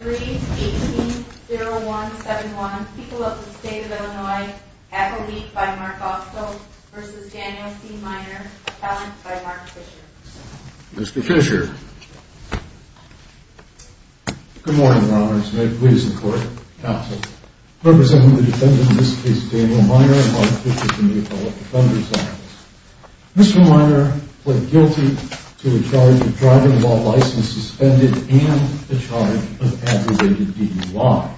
3-18-0171, People of the State of Illinois, Appellee by Mark Austell v. Daniel C. Minor, Appellant by Mark Fisher Mr. Fisher Good morning, Your Honors. May it please the Court, counsel. Representing the defendant in this case, Daniel Minor, and Mark Fisher from the Appellate Defenders' Office. Mr. Minor pled guilty to a charge of driving while license suspended and a charge of aggravated DUI.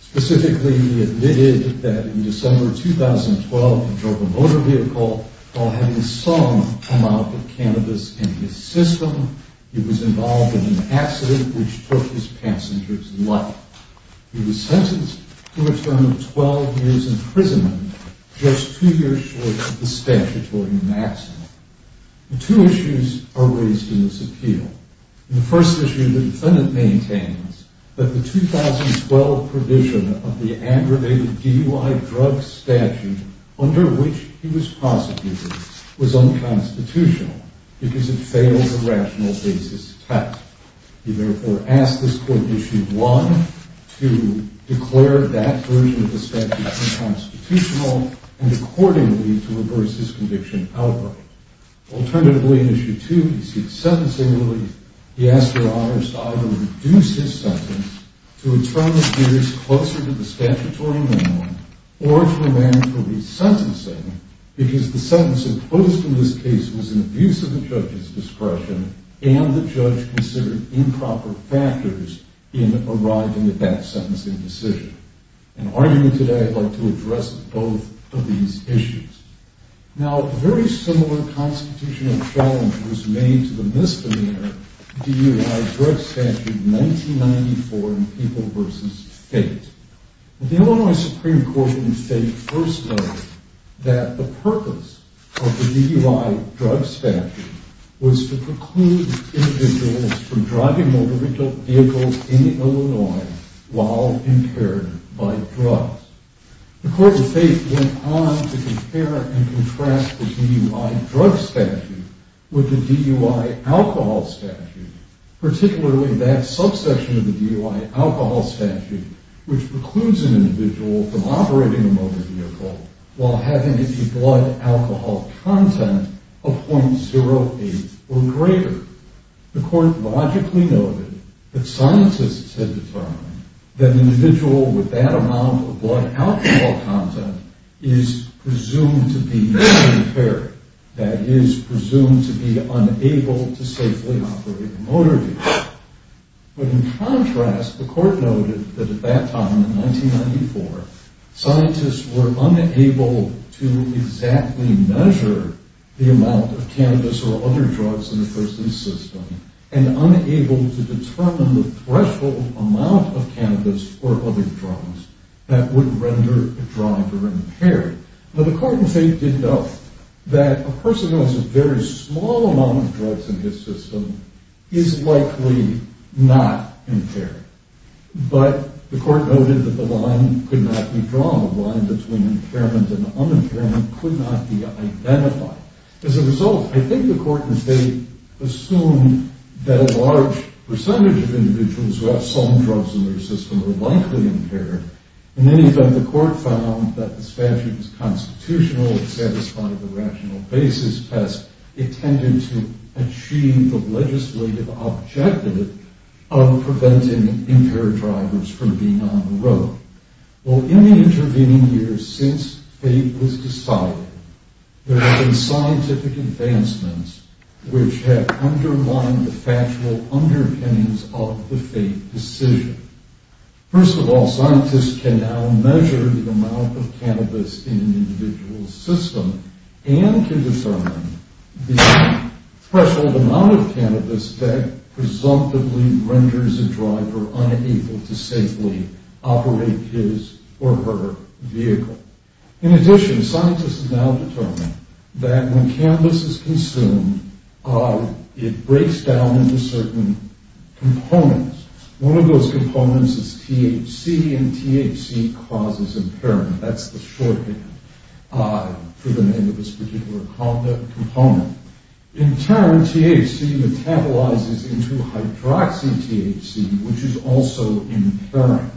Specifically, he admitted that in December 2012, he drove a motor vehicle while having some amount of cannabis in his system. He was involved in an accident which took his passenger's life. He was sentenced to a term of 12 years imprisonment, just two years short of the statutory maximum. Two issues are raised in this appeal. The first issue, the defendant maintains that the 2012 provision of the aggravated DUI drug statute under which he was prosecuted was unconstitutional because it failed a rational basis test. He therefore asked this Court, Issue 1, to declare that version of the statute unconstitutional and accordingly to reverse his conviction outright. Alternatively, in Issue 2, he seeks sentencing relief. He asked Your Honors to either reduce his sentence to a term of years closer to the statutory minimum or to remain for resentencing because the sentence enclosed in this case was an abuse of the judge's discretion and the judge considered improper factors in arriving at that sentencing decision. In argument today, I'd like to address both of these issues. Now, a very similar constitutional challenge was made to the misdemeanor DUI drug statute 1994 in People v. Fate. The Illinois Supreme Court in Fate first noted that the purpose of the DUI drug statute was to preclude individuals from driving motor vehicle vehicles in Illinois while impaired by drugs. The Court of Fate went on to compare and contrast the DUI drug statute with the DUI alcohol statute, particularly that subsection of the DUI alcohol statute which precludes an individual from operating a motor vehicle while having a blood alcohol content of 0.08 or greater. The Court logically noted that scientists had determined that an individual with that amount of blood alcohol content is presumed to be impaired, that is, presumed to be unable to safely operate a motor vehicle. But in contrast, the Court noted that at that time, in 1994, scientists were unable to exactly measure the amount of cannabis or other drugs in a person's system and unable to determine the threshold amount of cannabis or other drugs that would render a driver impaired. Now, the Court in Fate did note that a person who has a very small amount of drugs in his system is likely not impaired, but the Court noted that the line could not be drawn, the line between impairment and unimpairment could not be identified. As a result, I think the Court in Fate assumed that a large percentage of individuals who have some drugs in their system are likely impaired. In any event, the Court found that the statute was constitutional, it satisfied the rational basis test, it tended to achieve the legislative objective of preventing impaired drivers from being on the road. Well, in the intervening years since Fate was decided, there have been scientific advancements which have underlined the factual underpinnings of the Fate decision. First of all, scientists can now measure the amount of cannabis in an individual's system and can determine the threshold amount of cannabis that presumptively renders a driver unable to safely operate his or her vehicle. In addition, scientists have now determined that when cannabis is consumed, it breaks down into certain components. One of those components is THC, and THC causes impairment. That's the shorthand for the name of this particular component. In turn, THC metabolizes into hydroxy-THC, which is also impairing.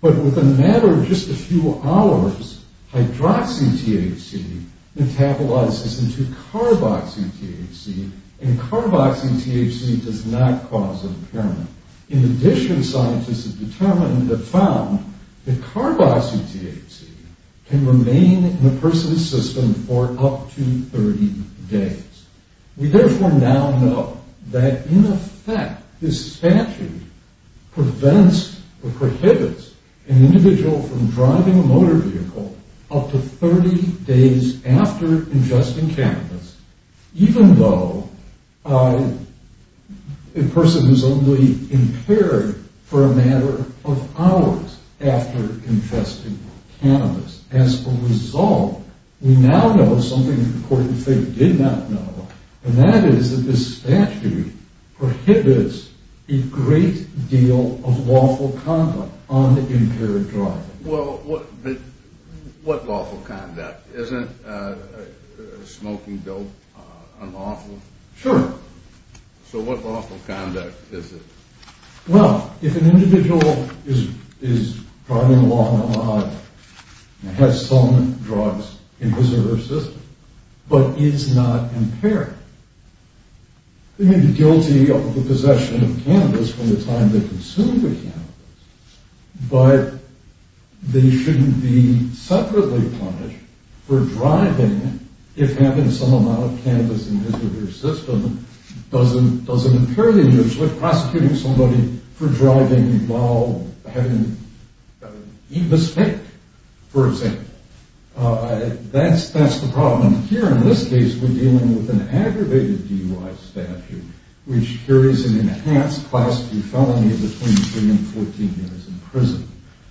But within a matter of just a few hours, hydroxy-THC metabolizes into carboxy-THC, and carboxy-THC does not cause impairment. In addition, scientists have found that carboxy-THC can remain in a person's system for up to 30 days. We therefore now know that, in effect, this statute prevents or prohibits an individual from driving a motor vehicle up to 30 days after ingesting cannabis, even though a person is only impaired for a matter of hours after ingesting cannabis. As a result, we now know something that the court of fate did not know, and that is that this statute prohibits a great deal of lawful conduct on the impaired driver. Well, what lawful conduct? Isn't smoking dope unlawful? Sure. So what lawful conduct is it? Well, if an individual is driving along a lot and has some drugs in his or her system, but is not impaired, they may be guilty of the possession of cannabis from the time they consumed the cannabis, but they shouldn't be separately punished for driving if having some amount of cannabis in his or her system doesn't impair the individual. That's the problem. Here, in this case, we're dealing with an aggravated DUI statute, which carries an enhanced class D felony between 3 and 14 years in prison.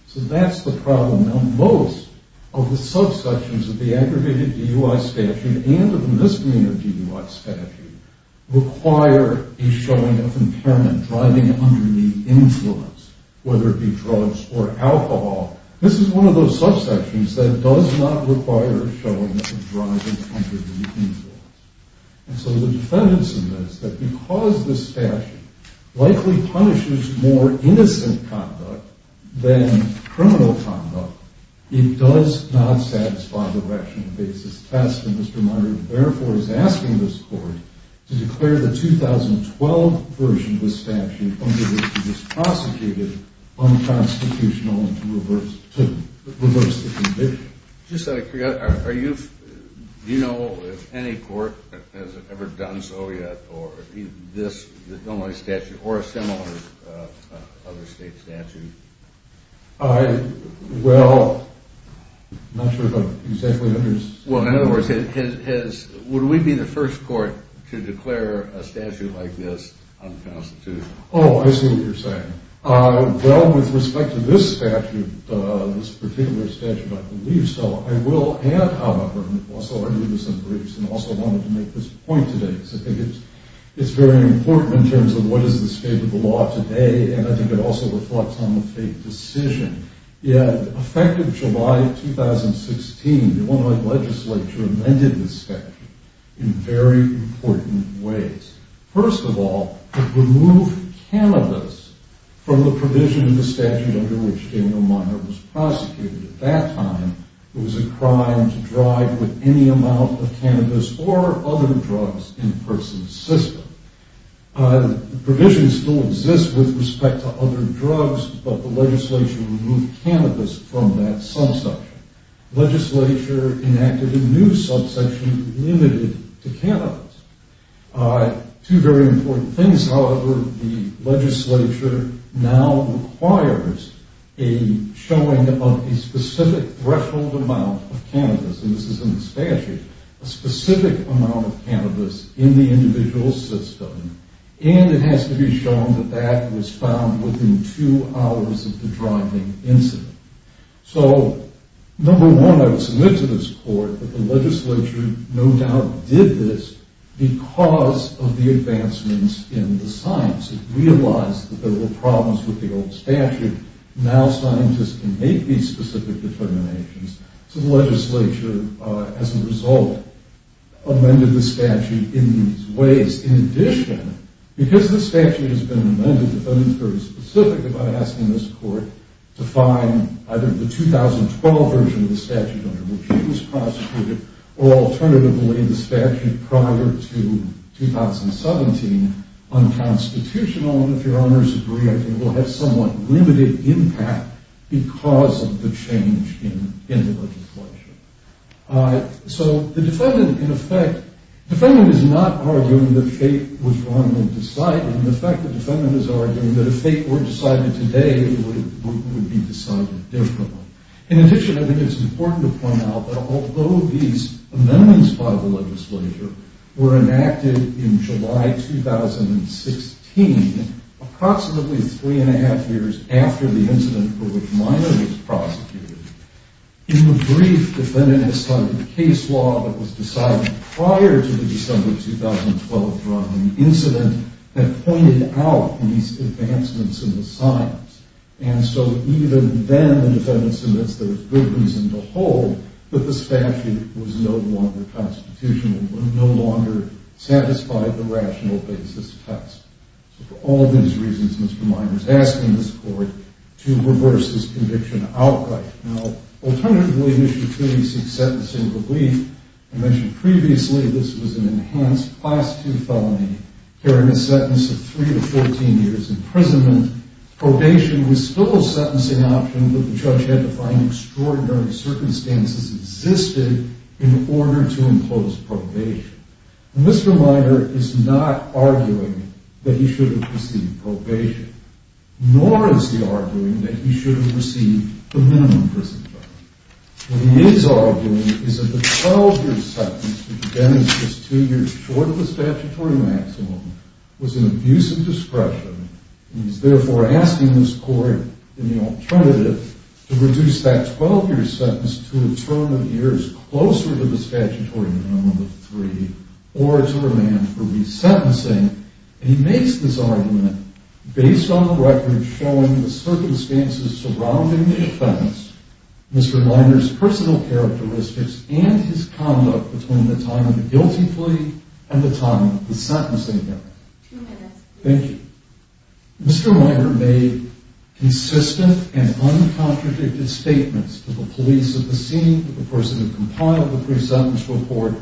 So that's the problem. Now, most of the subsections of the aggravated DUI statute and of the misdemeanor DUI statute require a showing of impairment, driving under the influence, whether it be drugs or alcohol. This is one of those subsections that does not require a showing of driving under the influence. And so the defendants in this, that because this statute likely punishes more innocent conduct than criminal conduct, it does not satisfy the rational basis test. And Mr. Munger, therefore, is asking this court to declare the 2012 version of the statute under which he was prosecuted unconstitutional and to reverse the condition. Just out of curiosity, do you know if any court has ever done so yet, or this DUI statute, or a similar other state statute? Well, I'm not sure if I'm exactly understood. Well, in other words, would we be the first court to declare a statute like this unconstitutional? Oh, I see what you're saying. Well, with respect to this statute, this particular statute, I believe so. I will add, however, and I've also argued this in briefs and also wanted to make this point today, because I think it's very important in terms of what is the state of the law today. And I think it also reflects on the fate decision. In effect of July 2016, the Illinois legislature amended this statute in very important ways. First of all, to remove cannabis from the provision of the statute under which Daniel Munger was prosecuted. At that time, it was a crime to drive with any amount of cannabis or other drugs in a person's system. The provision still exists with respect to other drugs, but the legislation removed cannabis from that subsection. Legislature enacted a new subsection limited to cannabis. Two very important things, however, the legislature now requires a showing of a specific threshold amount of cannabis. And this is in the statute, a specific amount of cannabis in the individual's system. And it has to be shown that that was found within two hours of the driving incident. So, number one, I would submit to this court that the legislature no doubt did this because of the advancements in the science. It realized that there were problems with the old statute. Now scientists can make these specific determinations. So the legislature, as a result, amended the statute in these ways. In addition, because this statute has been amended, the defendant is very specific about asking this court to find either the 2012 version of the statute under which he was prosecuted, or alternatively the statute prior to 2017 unconstitutional. And if your honors agree, I think it will have somewhat limited impact because of the change in the legislature. So the defendant, in effect, the defendant is not arguing that fate was wrongly decided. In effect, the defendant is arguing that if fate were decided today, it would be decided differently. In addition, I think it's important to point out that although these amendments by the legislature were enacted in July 2016, approximately three and a half years after the incident for which Minor was prosecuted, in the brief defendant has cited a case law that was decided prior to the December 2012 driving incident that pointed out these advancements in the science. And so even then the defendant submits there was good reason to hold that the statute was no longer constitutional, and would no longer satisfy the rational basis test. So for all of these reasons, Mr. Minor is asking this court to reverse this conviction outright. Now, alternatively, Mr. Toomey seeks sentencing relief. I mentioned previously this was an enhanced Class II felony carrying a sentence of three to 14 years imprisonment. Probation was still a sentencing option, but the judge had to find extraordinary circumstances existed in order to impose probation. And Mr. Minor is not arguing that he should have received probation, nor is he arguing that he should have received the minimum prison time. What he is arguing is that the 12-year sentence, which again is just two years short of the statutory maximum, was an abuse of discretion, and he is therefore asking this court, in the alternative, to reduce that 12-year sentence to a term of years closer to the statutory minimum of three, or to remand for resentencing. And he makes this argument based on records showing the circumstances surrounding the offense, Mr. Minor's personal characteristics, and his conduct between the time of the guilty plea and the time of the sentencing hearing. Thank you. Mr. Minor made consistent and uncontradicted statements to the police at the scene, to the person who compiled the pre-sentence report,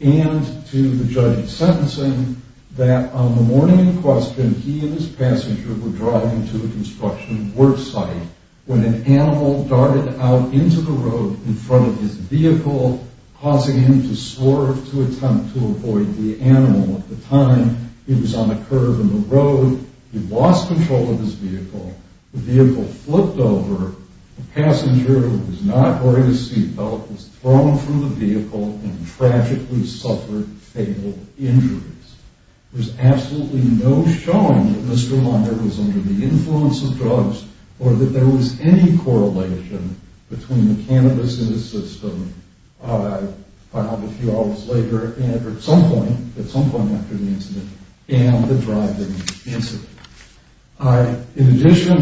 and to the judge sentencing, that on the morning in question, he and his passenger were driving to a construction work site when an animal darted out into the road in front of his vehicle, causing him to swerve to attempt to avoid the animal. At the time, he was on a curve in the road. He lost control of his vehicle. The vehicle flipped over. A passenger who was not wearing a seatbelt was thrown from the vehicle and tragically suffered fatal injuries. There's absolutely no showing that Mr. Minor was under the influence of drugs or that there was any correlation between the cannabis in his system, filed a few hours later and at some point after the incident, and the driving incident. In addition,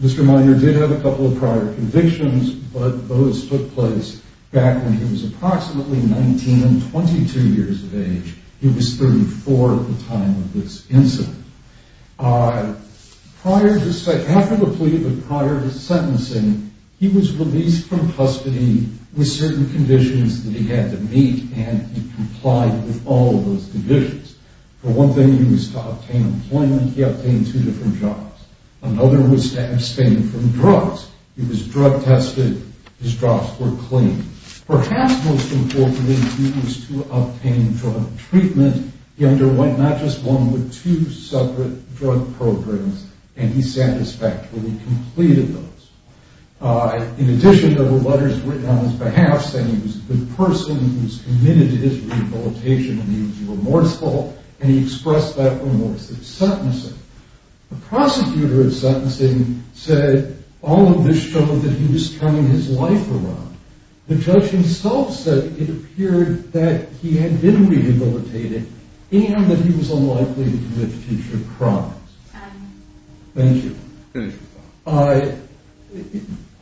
Mr. Minor did have a couple of prior convictions, but those took place back when he was approximately 19 and 22 years of age. He was 34 at the time of this incident. Prior to- after the plea, but prior to sentencing, he was released from custody with certain conditions that he had to meet, and he complied with all of those conditions. For one thing, he was to obtain employment. He obtained two different jobs. Another was to abstain from drugs. He was drug tested. His drugs were clean. Perhaps most importantly, he was to obtain drug treatment. He underwent not just one, but two separate drug programs, and he satisfactorily completed those. In addition, there were letters written on his behalf, saying he was a good person and he was committed to his rehabilitation and he was remorseful, and he expressed that remorse at sentencing. The prosecutor of sentencing said all of this showed that he was turning his life around. The judge himself said it appeared that he had been rehabilitated and that he was unlikely to commit future crimes. Thank you.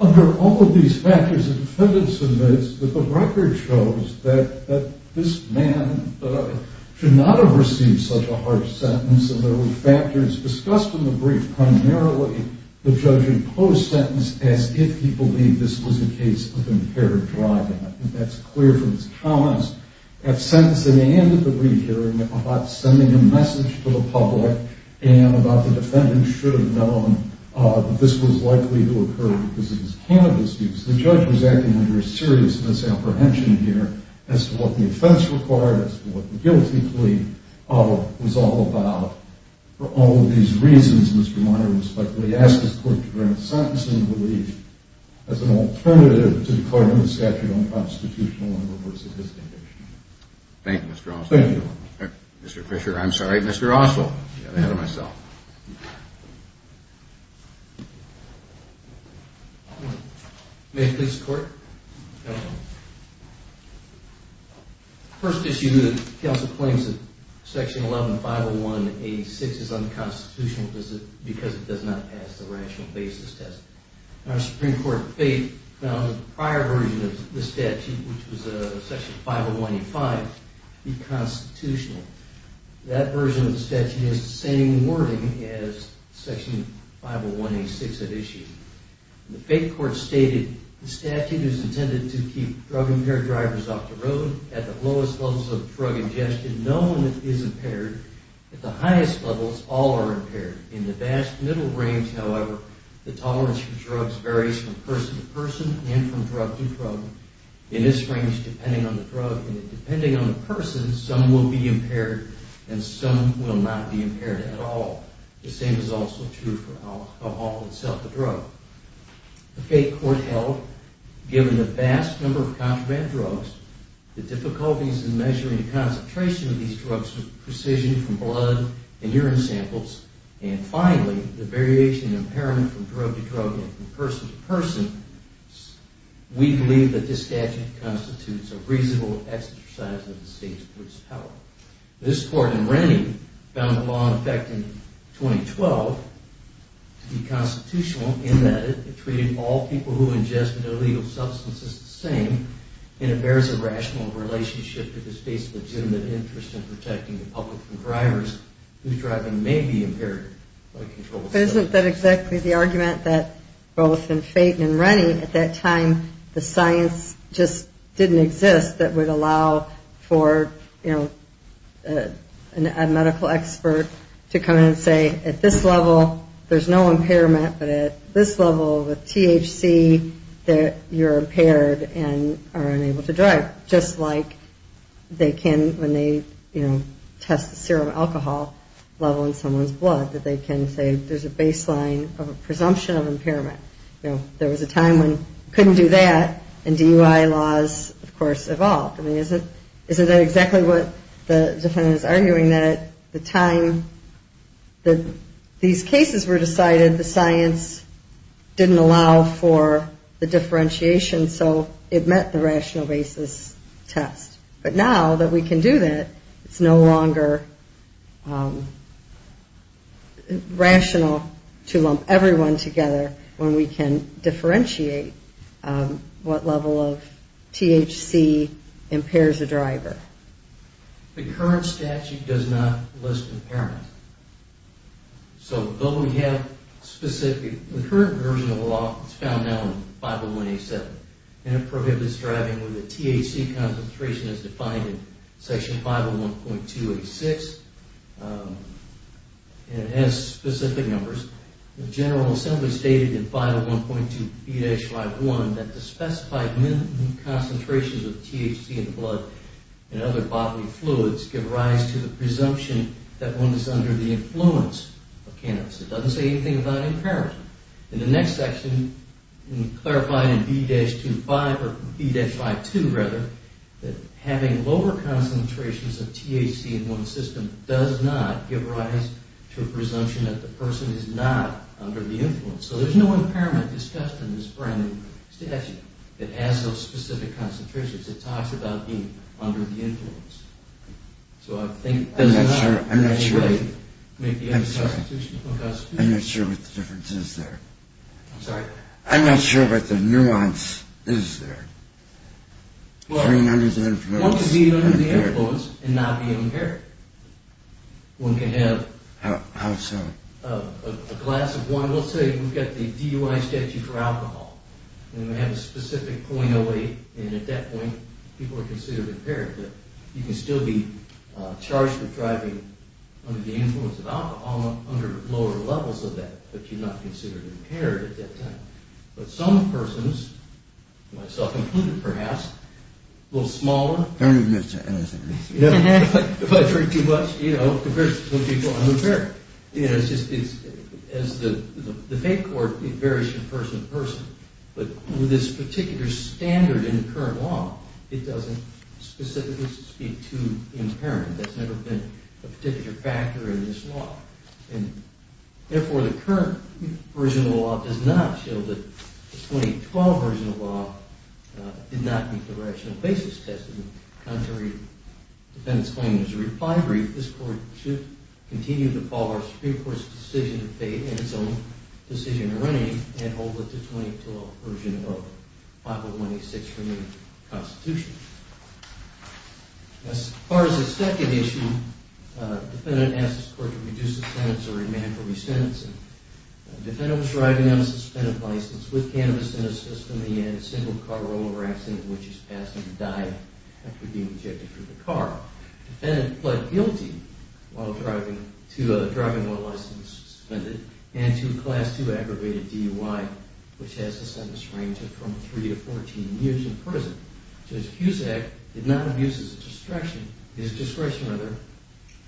Under all of these factors, the defendants admit that the record shows that this man should not have received such a harsh sentence, and there were factors discussed in the brief, the judge imposed sentence as if he believed this was a case of impaired driving. That's clear from his comments at sentencing and at the re-hearing about sending a message to the public and about the defendants should have known that this was likely to occur because of his cannabis use. The judge was acting under a serious misapprehension here as to what the offense required, as to what the guilty plea was all about. For all of these reasons, Mr. Meyer respectfully asks the court to grant sentencing relief as an alternative to declaring the statute unconstitutional in reverse of his condition. Thank you, Mr. Oswald. Thank you. Mr. Fisher, I'm sorry, Mr. Oswald. May it please the court. Counsel. First issue, the counsel claims that Section 1150186 is unconstitutional because it does not pass the rational basis test. Our Supreme Court of Faith found the prior version of the statute, which was Section 50185, to be constitutional. That version of the statute has the same wording as Section 50186 had issued. The faith court stated, the statute is intended to keep drug-impaired drivers off the road at the lowest levels of drug ingestion. No one is impaired. At the highest levels, all are impaired. In the vast middle range, however, the tolerance for drugs varies from person to person and from drug to drug. In this range, depending on the drug and depending on the person, some will be impaired and some will not be impaired at all. The same is also true for alcohol itself, a drug. The faith court held, given the vast number of contraband drugs, the difficulties in measuring the concentration of these drugs with precision from blood and urine samples, and finally, the variation in impairment from drug to drug and from person to person, we believe that this statute constitutes a reasonable exercise of the state's police power. This court in Rennie found the law in effect in 2012 to be constitutional in that it treated all people who ingested illegal substances the same, and it bears a rational relationship to the state's legitimate interest in protecting the public from drivers whose driving may be impaired by controlled substances. Isn't that exactly the argument that both in Faden and Rennie at that time, the science just didn't exist that would allow for, you know, a medical expert to come in and say, at this level, there's no impairment, but at this level with THC, you're impaired and are unable to drive, just like they can when they, you know, test the serum alcohol level in someone's blood, that they can say there's a baseline of a presumption of impairment. You know, there was a time when you couldn't do that, and DUI laws, of course, evolved. I mean, isn't that exactly what the defendant is arguing, that at the time that these cases were decided, the science didn't allow for the differentiation, so it met the rational basis test. But now that we can do that, it's no longer rational to lump everyone together when we can differentiate what level of THC impairs a driver. The current statute does not list impairment. So though we have specific, the current version of the law is found now in 501A7, and it prohibits driving with a THC concentration as defined in section 501.286, and it has specific numbers, the General Assembly stated in 501.2B-51 that the specified minimum concentrations of THC in the blood and other bodily fluids give rise to the presumption that one is under the influence of cannabis. It doesn't say anything about impairment. In the next section, we clarify in B-25, or B-52 rather, that having lower concentrations of THC in one system does not give rise to a presumption that the person is not under the influence. So there's no impairment discussed in this brand new statute that has those specific concentrations. It talks about being under the influence. So I think it does not in any way make the other constitutional constitution. I'm not sure what the difference is there. I'm not sure what the nuance is there. Well, one can be under the influence and not be impaired. One can have a glass of wine. Let's say we've got the DUI statute for alcohol, and we have a specific .08, and at that point people are considered impaired, but you can still be charged with driving under the influence of alcohol under lower levels of that, but you're not considered impaired at that time. But some persons, myself included perhaps, a little smaller... I don't agree with that. If I drink too much, you know, compared to some people, I'm impaired. You know, it's just, as the fate court, it varies from person to person. But with this particular standard in the current law, it doesn't specifically speak to impairment. That's never been a particular factor in this law. And therefore, the current version of the law does not show that the 2012 version of the law did not meet the rational basis test. And contrary to the defendant's claim as a reply brief, this court should continue to follow our Supreme Court's decision of fate and its own decision in running and hold that the 2012 version of 50186 remains constitutional. As far as the second issue, the defendant asks the court to reduce the sentence or remand for resentencing. The defendant was driving on a suspended license with cannabis in his system and he had a single-car rollover accident in which he's passed and died after being ejected from the car. The defendant pled guilty to driving while license was suspended and to a Class 2 aggravated DUI, which has the sentence range of from 3 to 14 years in prison. Judge Cusack did not abuse his discretion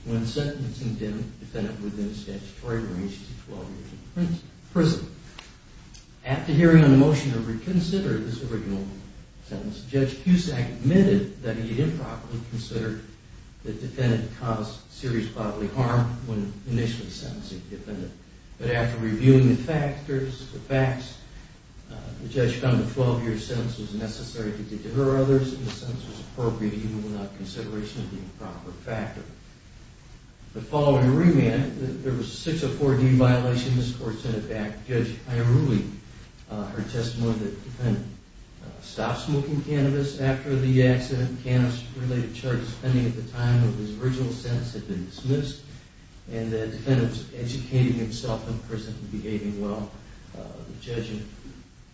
when sentencing the defendant within the statutory range to 12 years in prison. After hearing on the motion to reconsider this original sentence, Judge Cusack admitted that he had improperly considered the defendant to cause serious bodily harm when initially sentencing the defendant. But after reviewing the factors, the facts, the judge found the 12-year sentence was necessary to deter others and the sentence was appropriate even without consideration of the improper factor. The following remand, there was a 604D violation. This court sent it back. Judge Ierulli heard testimony that the defendant stopped smoking cannabis after the accident. Cannabis-related charges pending at the time of his original sentence had been dismissed and that the defendant was educating himself in prison and behaving well. The judge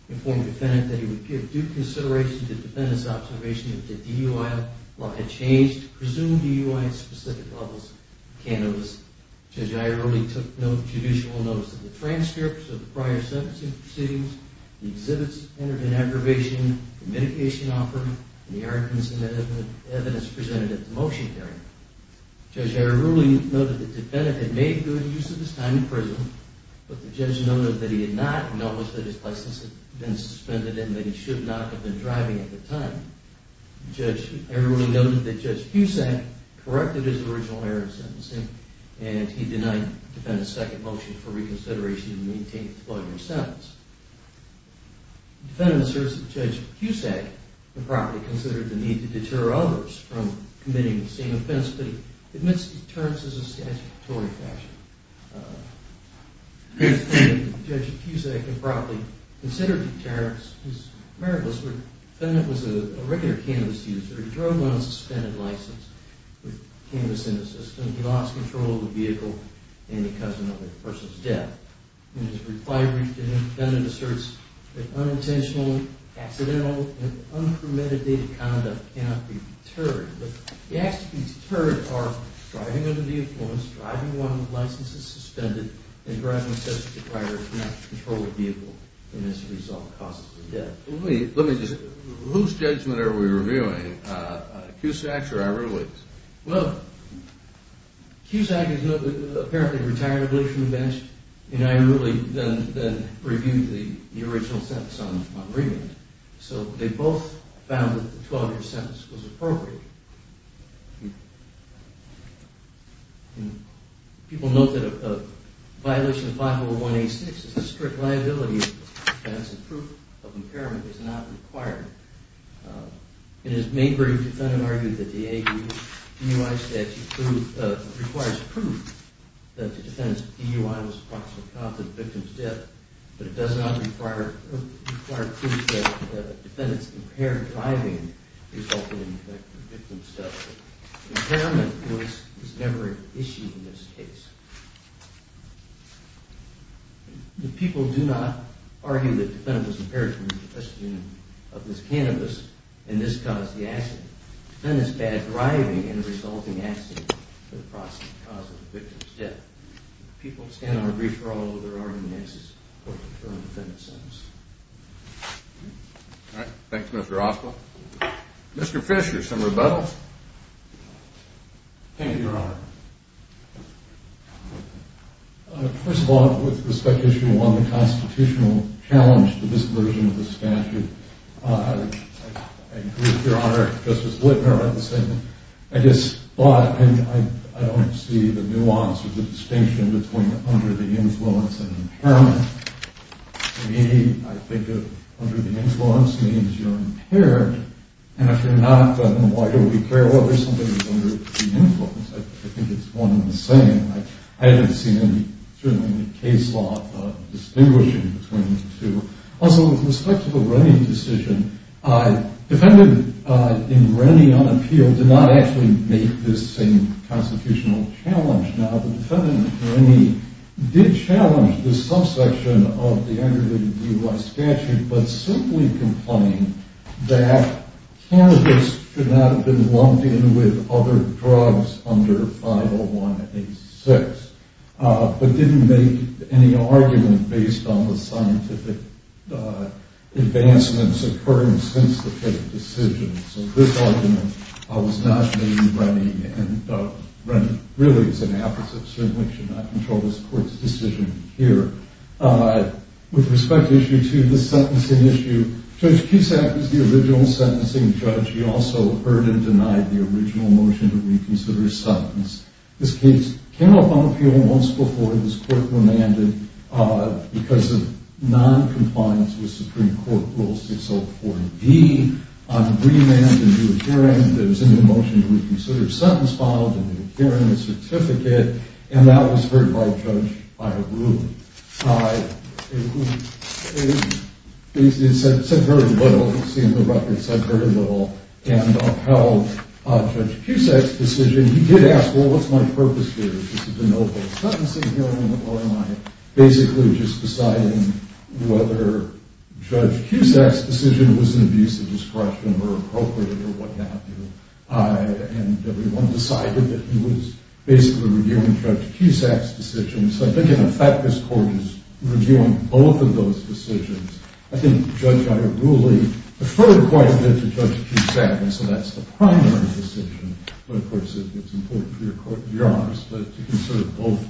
informed the defendant that he would give due consideration to the defendant's observation that the DUI law had changed to presume DUI at specific levels of cannabis. Judge Ierulli took no judicial notice of the transcripts of the prior sentencing proceedings, the exhibits that entered into aggravation, the medication offered, and the arguments and evidence presented at the motion hearing. Judge Ierulli noted that the defendant had made good use of his time in prison, but the judge noted that he had not noticed that his license had been suspended and that he should not have been driving at the time. Judge Ierulli noted that Judge Cusack corrected his original error of sentencing and he denied the defendant's second motion for reconsideration to maintain the 12-year sentence. The defendant asserts that Judge Cusack improperly considered the need to deter others from committing the same offense, but he admits deterrence in a statutory fashion. Judge Cusack improperly considered deterrence. His merit was that the defendant was a regular cannabis user. He drove on a suspended license with cannabis in his system. He lost control of the vehicle and he caused another person's death. In his reply brief, the defendant asserts that unintentional, accidental, and unpremeditated conduct cannot be deterred, but the acts to be deterred are driving under the influence, driving while the license is suspended, and driving with such a deprived or not controlled vehicle, and as a result, causes a death. Let me just, whose judgment are we reviewing, Cusack's or Ierulli's? Well, Cusack is apparently retired, lives on the bench, and Ierulli then reviewed the original sentence on remand. So they both found that the 12-year sentence was appropriate. People note that a violation of 501A6 is a strict liability defense and proof of impairment is not required. In his main brief, the defendant argued that the AU DUI statute requires proof that the defendant's DUI was a proximate cause of the victim's death, but it does not require proof that the defendant's impaired driving resulted in the victim's death. Impairment was never an issue in this case. The people do not argue that the defendant was impaired from the ingestion of this cannabis and this caused the accident. The defendant's bad driving is a resulting accident that is a proximate cause of the victim's death. People stand on a brief for all other arguments as to whether to confirm the defendant's sentence. All right. Thanks, Mr. Oswald. Mr. Fisher, some rebuttals? Thank you, Your Honor. First of all, with respect to issue one, the constitutional challenge to this version of the statute, I agree with Your Honor, Justice Whitmer, on the same. I don't see the nuance or the distinction between under the influence and impairment. To me, I think under the influence means you're impaired, and if you're not, then why do we care whether somebody is under the influence? I think it's one and the same. I haven't seen any case law distinguishing between the two. Also, with respect to the Rennie decision, the defendant in Rennie, on appeal, did not actually make this same constitutional challenge. Now, the defendant in Rennie did challenge this subsection of the under the DUI statute, but simply complained that cannabis should not have been lumped in with other drugs under 501A6, but didn't make any argument based on the scientific advancements occurring since the court's decision. So this argument was not made in Rennie, and Rennie really is an apposite, certainly should not control this court's decision here. With respect to issue two, the sentencing issue, Judge Cusack is the original sentencing judge. He also heard and denied the original motion to reconsider sentence. This case came up on appeal once before this court remanded, because of noncompliance with Supreme Court Rule 604D, on the remand to do a hearing, that it was in the motion to reconsider sentence, filed a new hearing certificate, and that was heard by Judge Byer-Rudin, who said very little, seen the record, said very little, and upheld Judge Cusack's decision. He did ask, well, what's my purpose here? Is this a de novo sentencing hearing, or am I basically just deciding whether Judge Cusack's decision was an abuse of discretion, or appropriate, or what have you, and everyone decided that he was basically reviewing Judge Cusack's decision. So I think in effect, this court is reviewing both of those decisions. I think Judge Byer-Rudin referred quite a bit to Judge Cusack, and so that's the primary decision, but, of course, it's important for your honors to consider both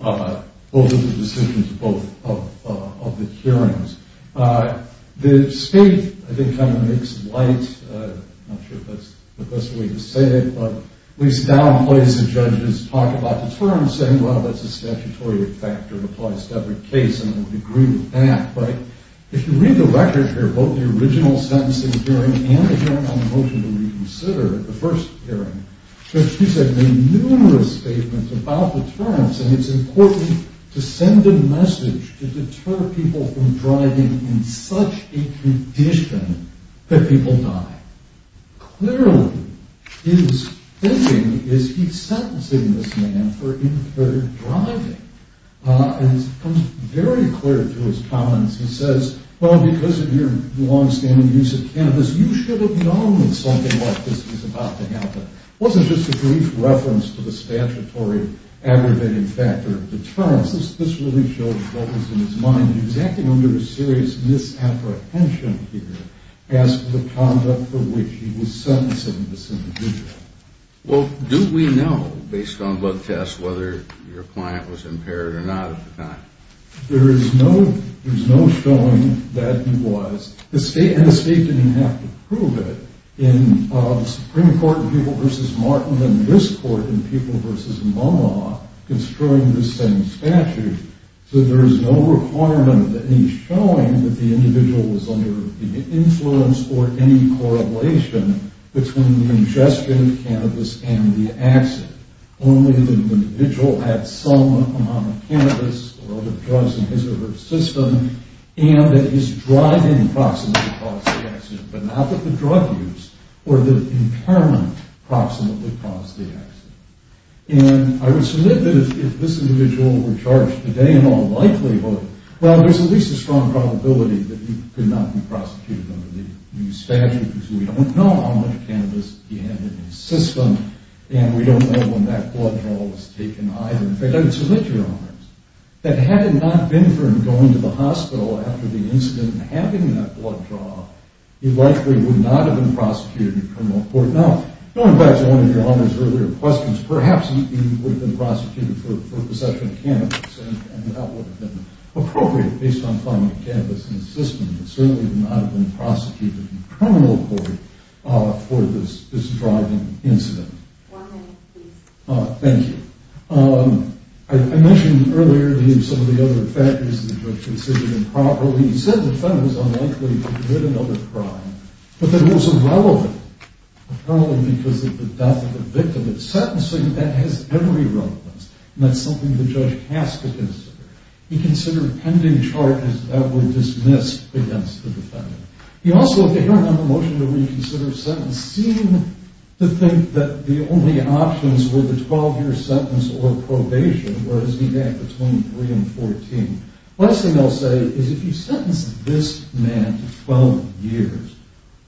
of the decisions, both of the hearings. The state, I think, kind of makes light, I'm not sure if that's the best way to say it, but at least downplays the judge's talk about the terms, saying, well, that's a statutory factor that applies to every case, and I would agree with that, right? If you read the record here, both the original sentencing hearing and the hearing on the motion to reconsider, the first hearing, Judge Cusack made numerous statements about the terms, and it's important to send a message to deter people from driving in such a condition that people die. Clearly, his thinking is he's sentencing this man for impaired driving, and it becomes very clear to his comments, he says, well, because of your longstanding use of cannabis, you should have known something like this was about to happen. It wasn't just a brief reference to the statutory aggravating factor of deterrence. This really shows what was in his mind. He was acting under a serious misapprehension here as to the conduct for which he was sentencing this individual. Well, do we know, based on blood tests, whether your client was impaired or not at the time? There is no showing that he was, and the state didn't even have to prove it, in the Supreme Court in Pupil v. Martin and this court in Pupil v. MoMA, construing the same statute, so there is no requirement of any showing that the individual was under the influence or any correlation between the ingestion of cannabis and the accident, only that the individual had some amount of cannabis or other drugs in his or her system, and that his driving approximately caused the accident, but not that the drug use or the impairment approximately caused the accident. And I would submit that if this individual were charged today, in all likelihood, well, there's at least a strong probability that he could not be prosecuted under the new statute, because we don't know how much cannabis he had in his system, and we don't know when that blood draw was taken either. In fact, I would submit to your honors that had it not been for him going to the hospital after the incident and having that blood draw, he likely would not have been prosecuted in criminal court. Now, going back to one of your honors' earlier questions, perhaps he would have been prosecuted for possession of cannabis, and that would have been appropriate, based on finding cannabis in his system, but certainly would not have been prosecuted in criminal court for this driving incident. One minute, please. Thank you. I mentioned earlier some of the other factors that the judge considered improper. He said the defendant was unlikely to commit another crime, but that it was irrelevant, apparently because of the death of the victim. In sentencing, that has every relevance, and that's something the judge has to consider. He considered pending charges that were dismissed against the defendant. He also, in the motion to reconsider a sentence, seemed to think that the only options were the 12-year sentence or probation, whereas he had between 3 and 14. The last thing I'll say is if you sentence this man to 12 years,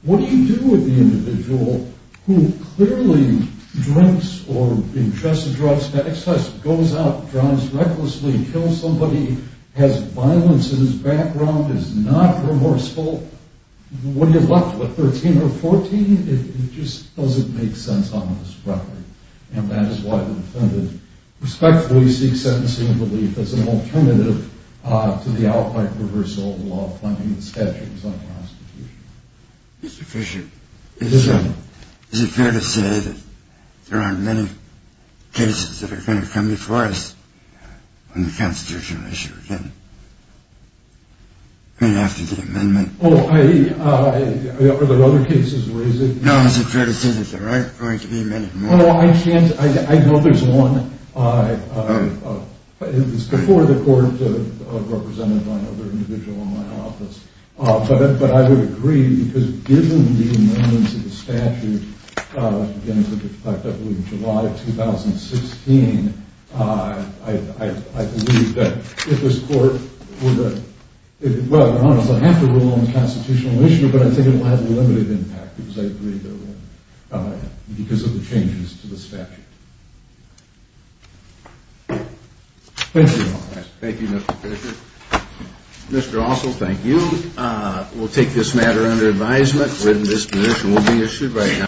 what do you do with the individual who clearly drinks or ingests drugs, excess, goes out, drives recklessly, kills somebody, has violence in his background, is not remorseful? What are you left with, 13 or 14? It just doesn't make sense on this record. And that is why the defendant, respectfully, seeks sentencing relief as an alternative to the outright reversal of the law finding the statute was unconstitutional. Mr. Fisher, is it fair to say that there aren't many cases that are going to come before us on the constitutional issue again? I mean, after the amendment. Oh, are there other cases where is it? No, it's a fair decision, sir, right? There aren't going to be many. I know there's one. It's before the court of representative of another individual in my office. But I would agree, because given the amendments to the statute, again, with respect, I believe, July of 2016, I believe that if this court were to, well, I don't know if they'll have to rule on the constitutional issue, but I think it will have a limited impact, because I agree that it will, because of the changes to the statute. Thank you, Mr. Fisher. Thank you, Mr. Fisher. Mr. Ossoll, thank you. We'll take this matter under advisement. We're in this judicial issue right now.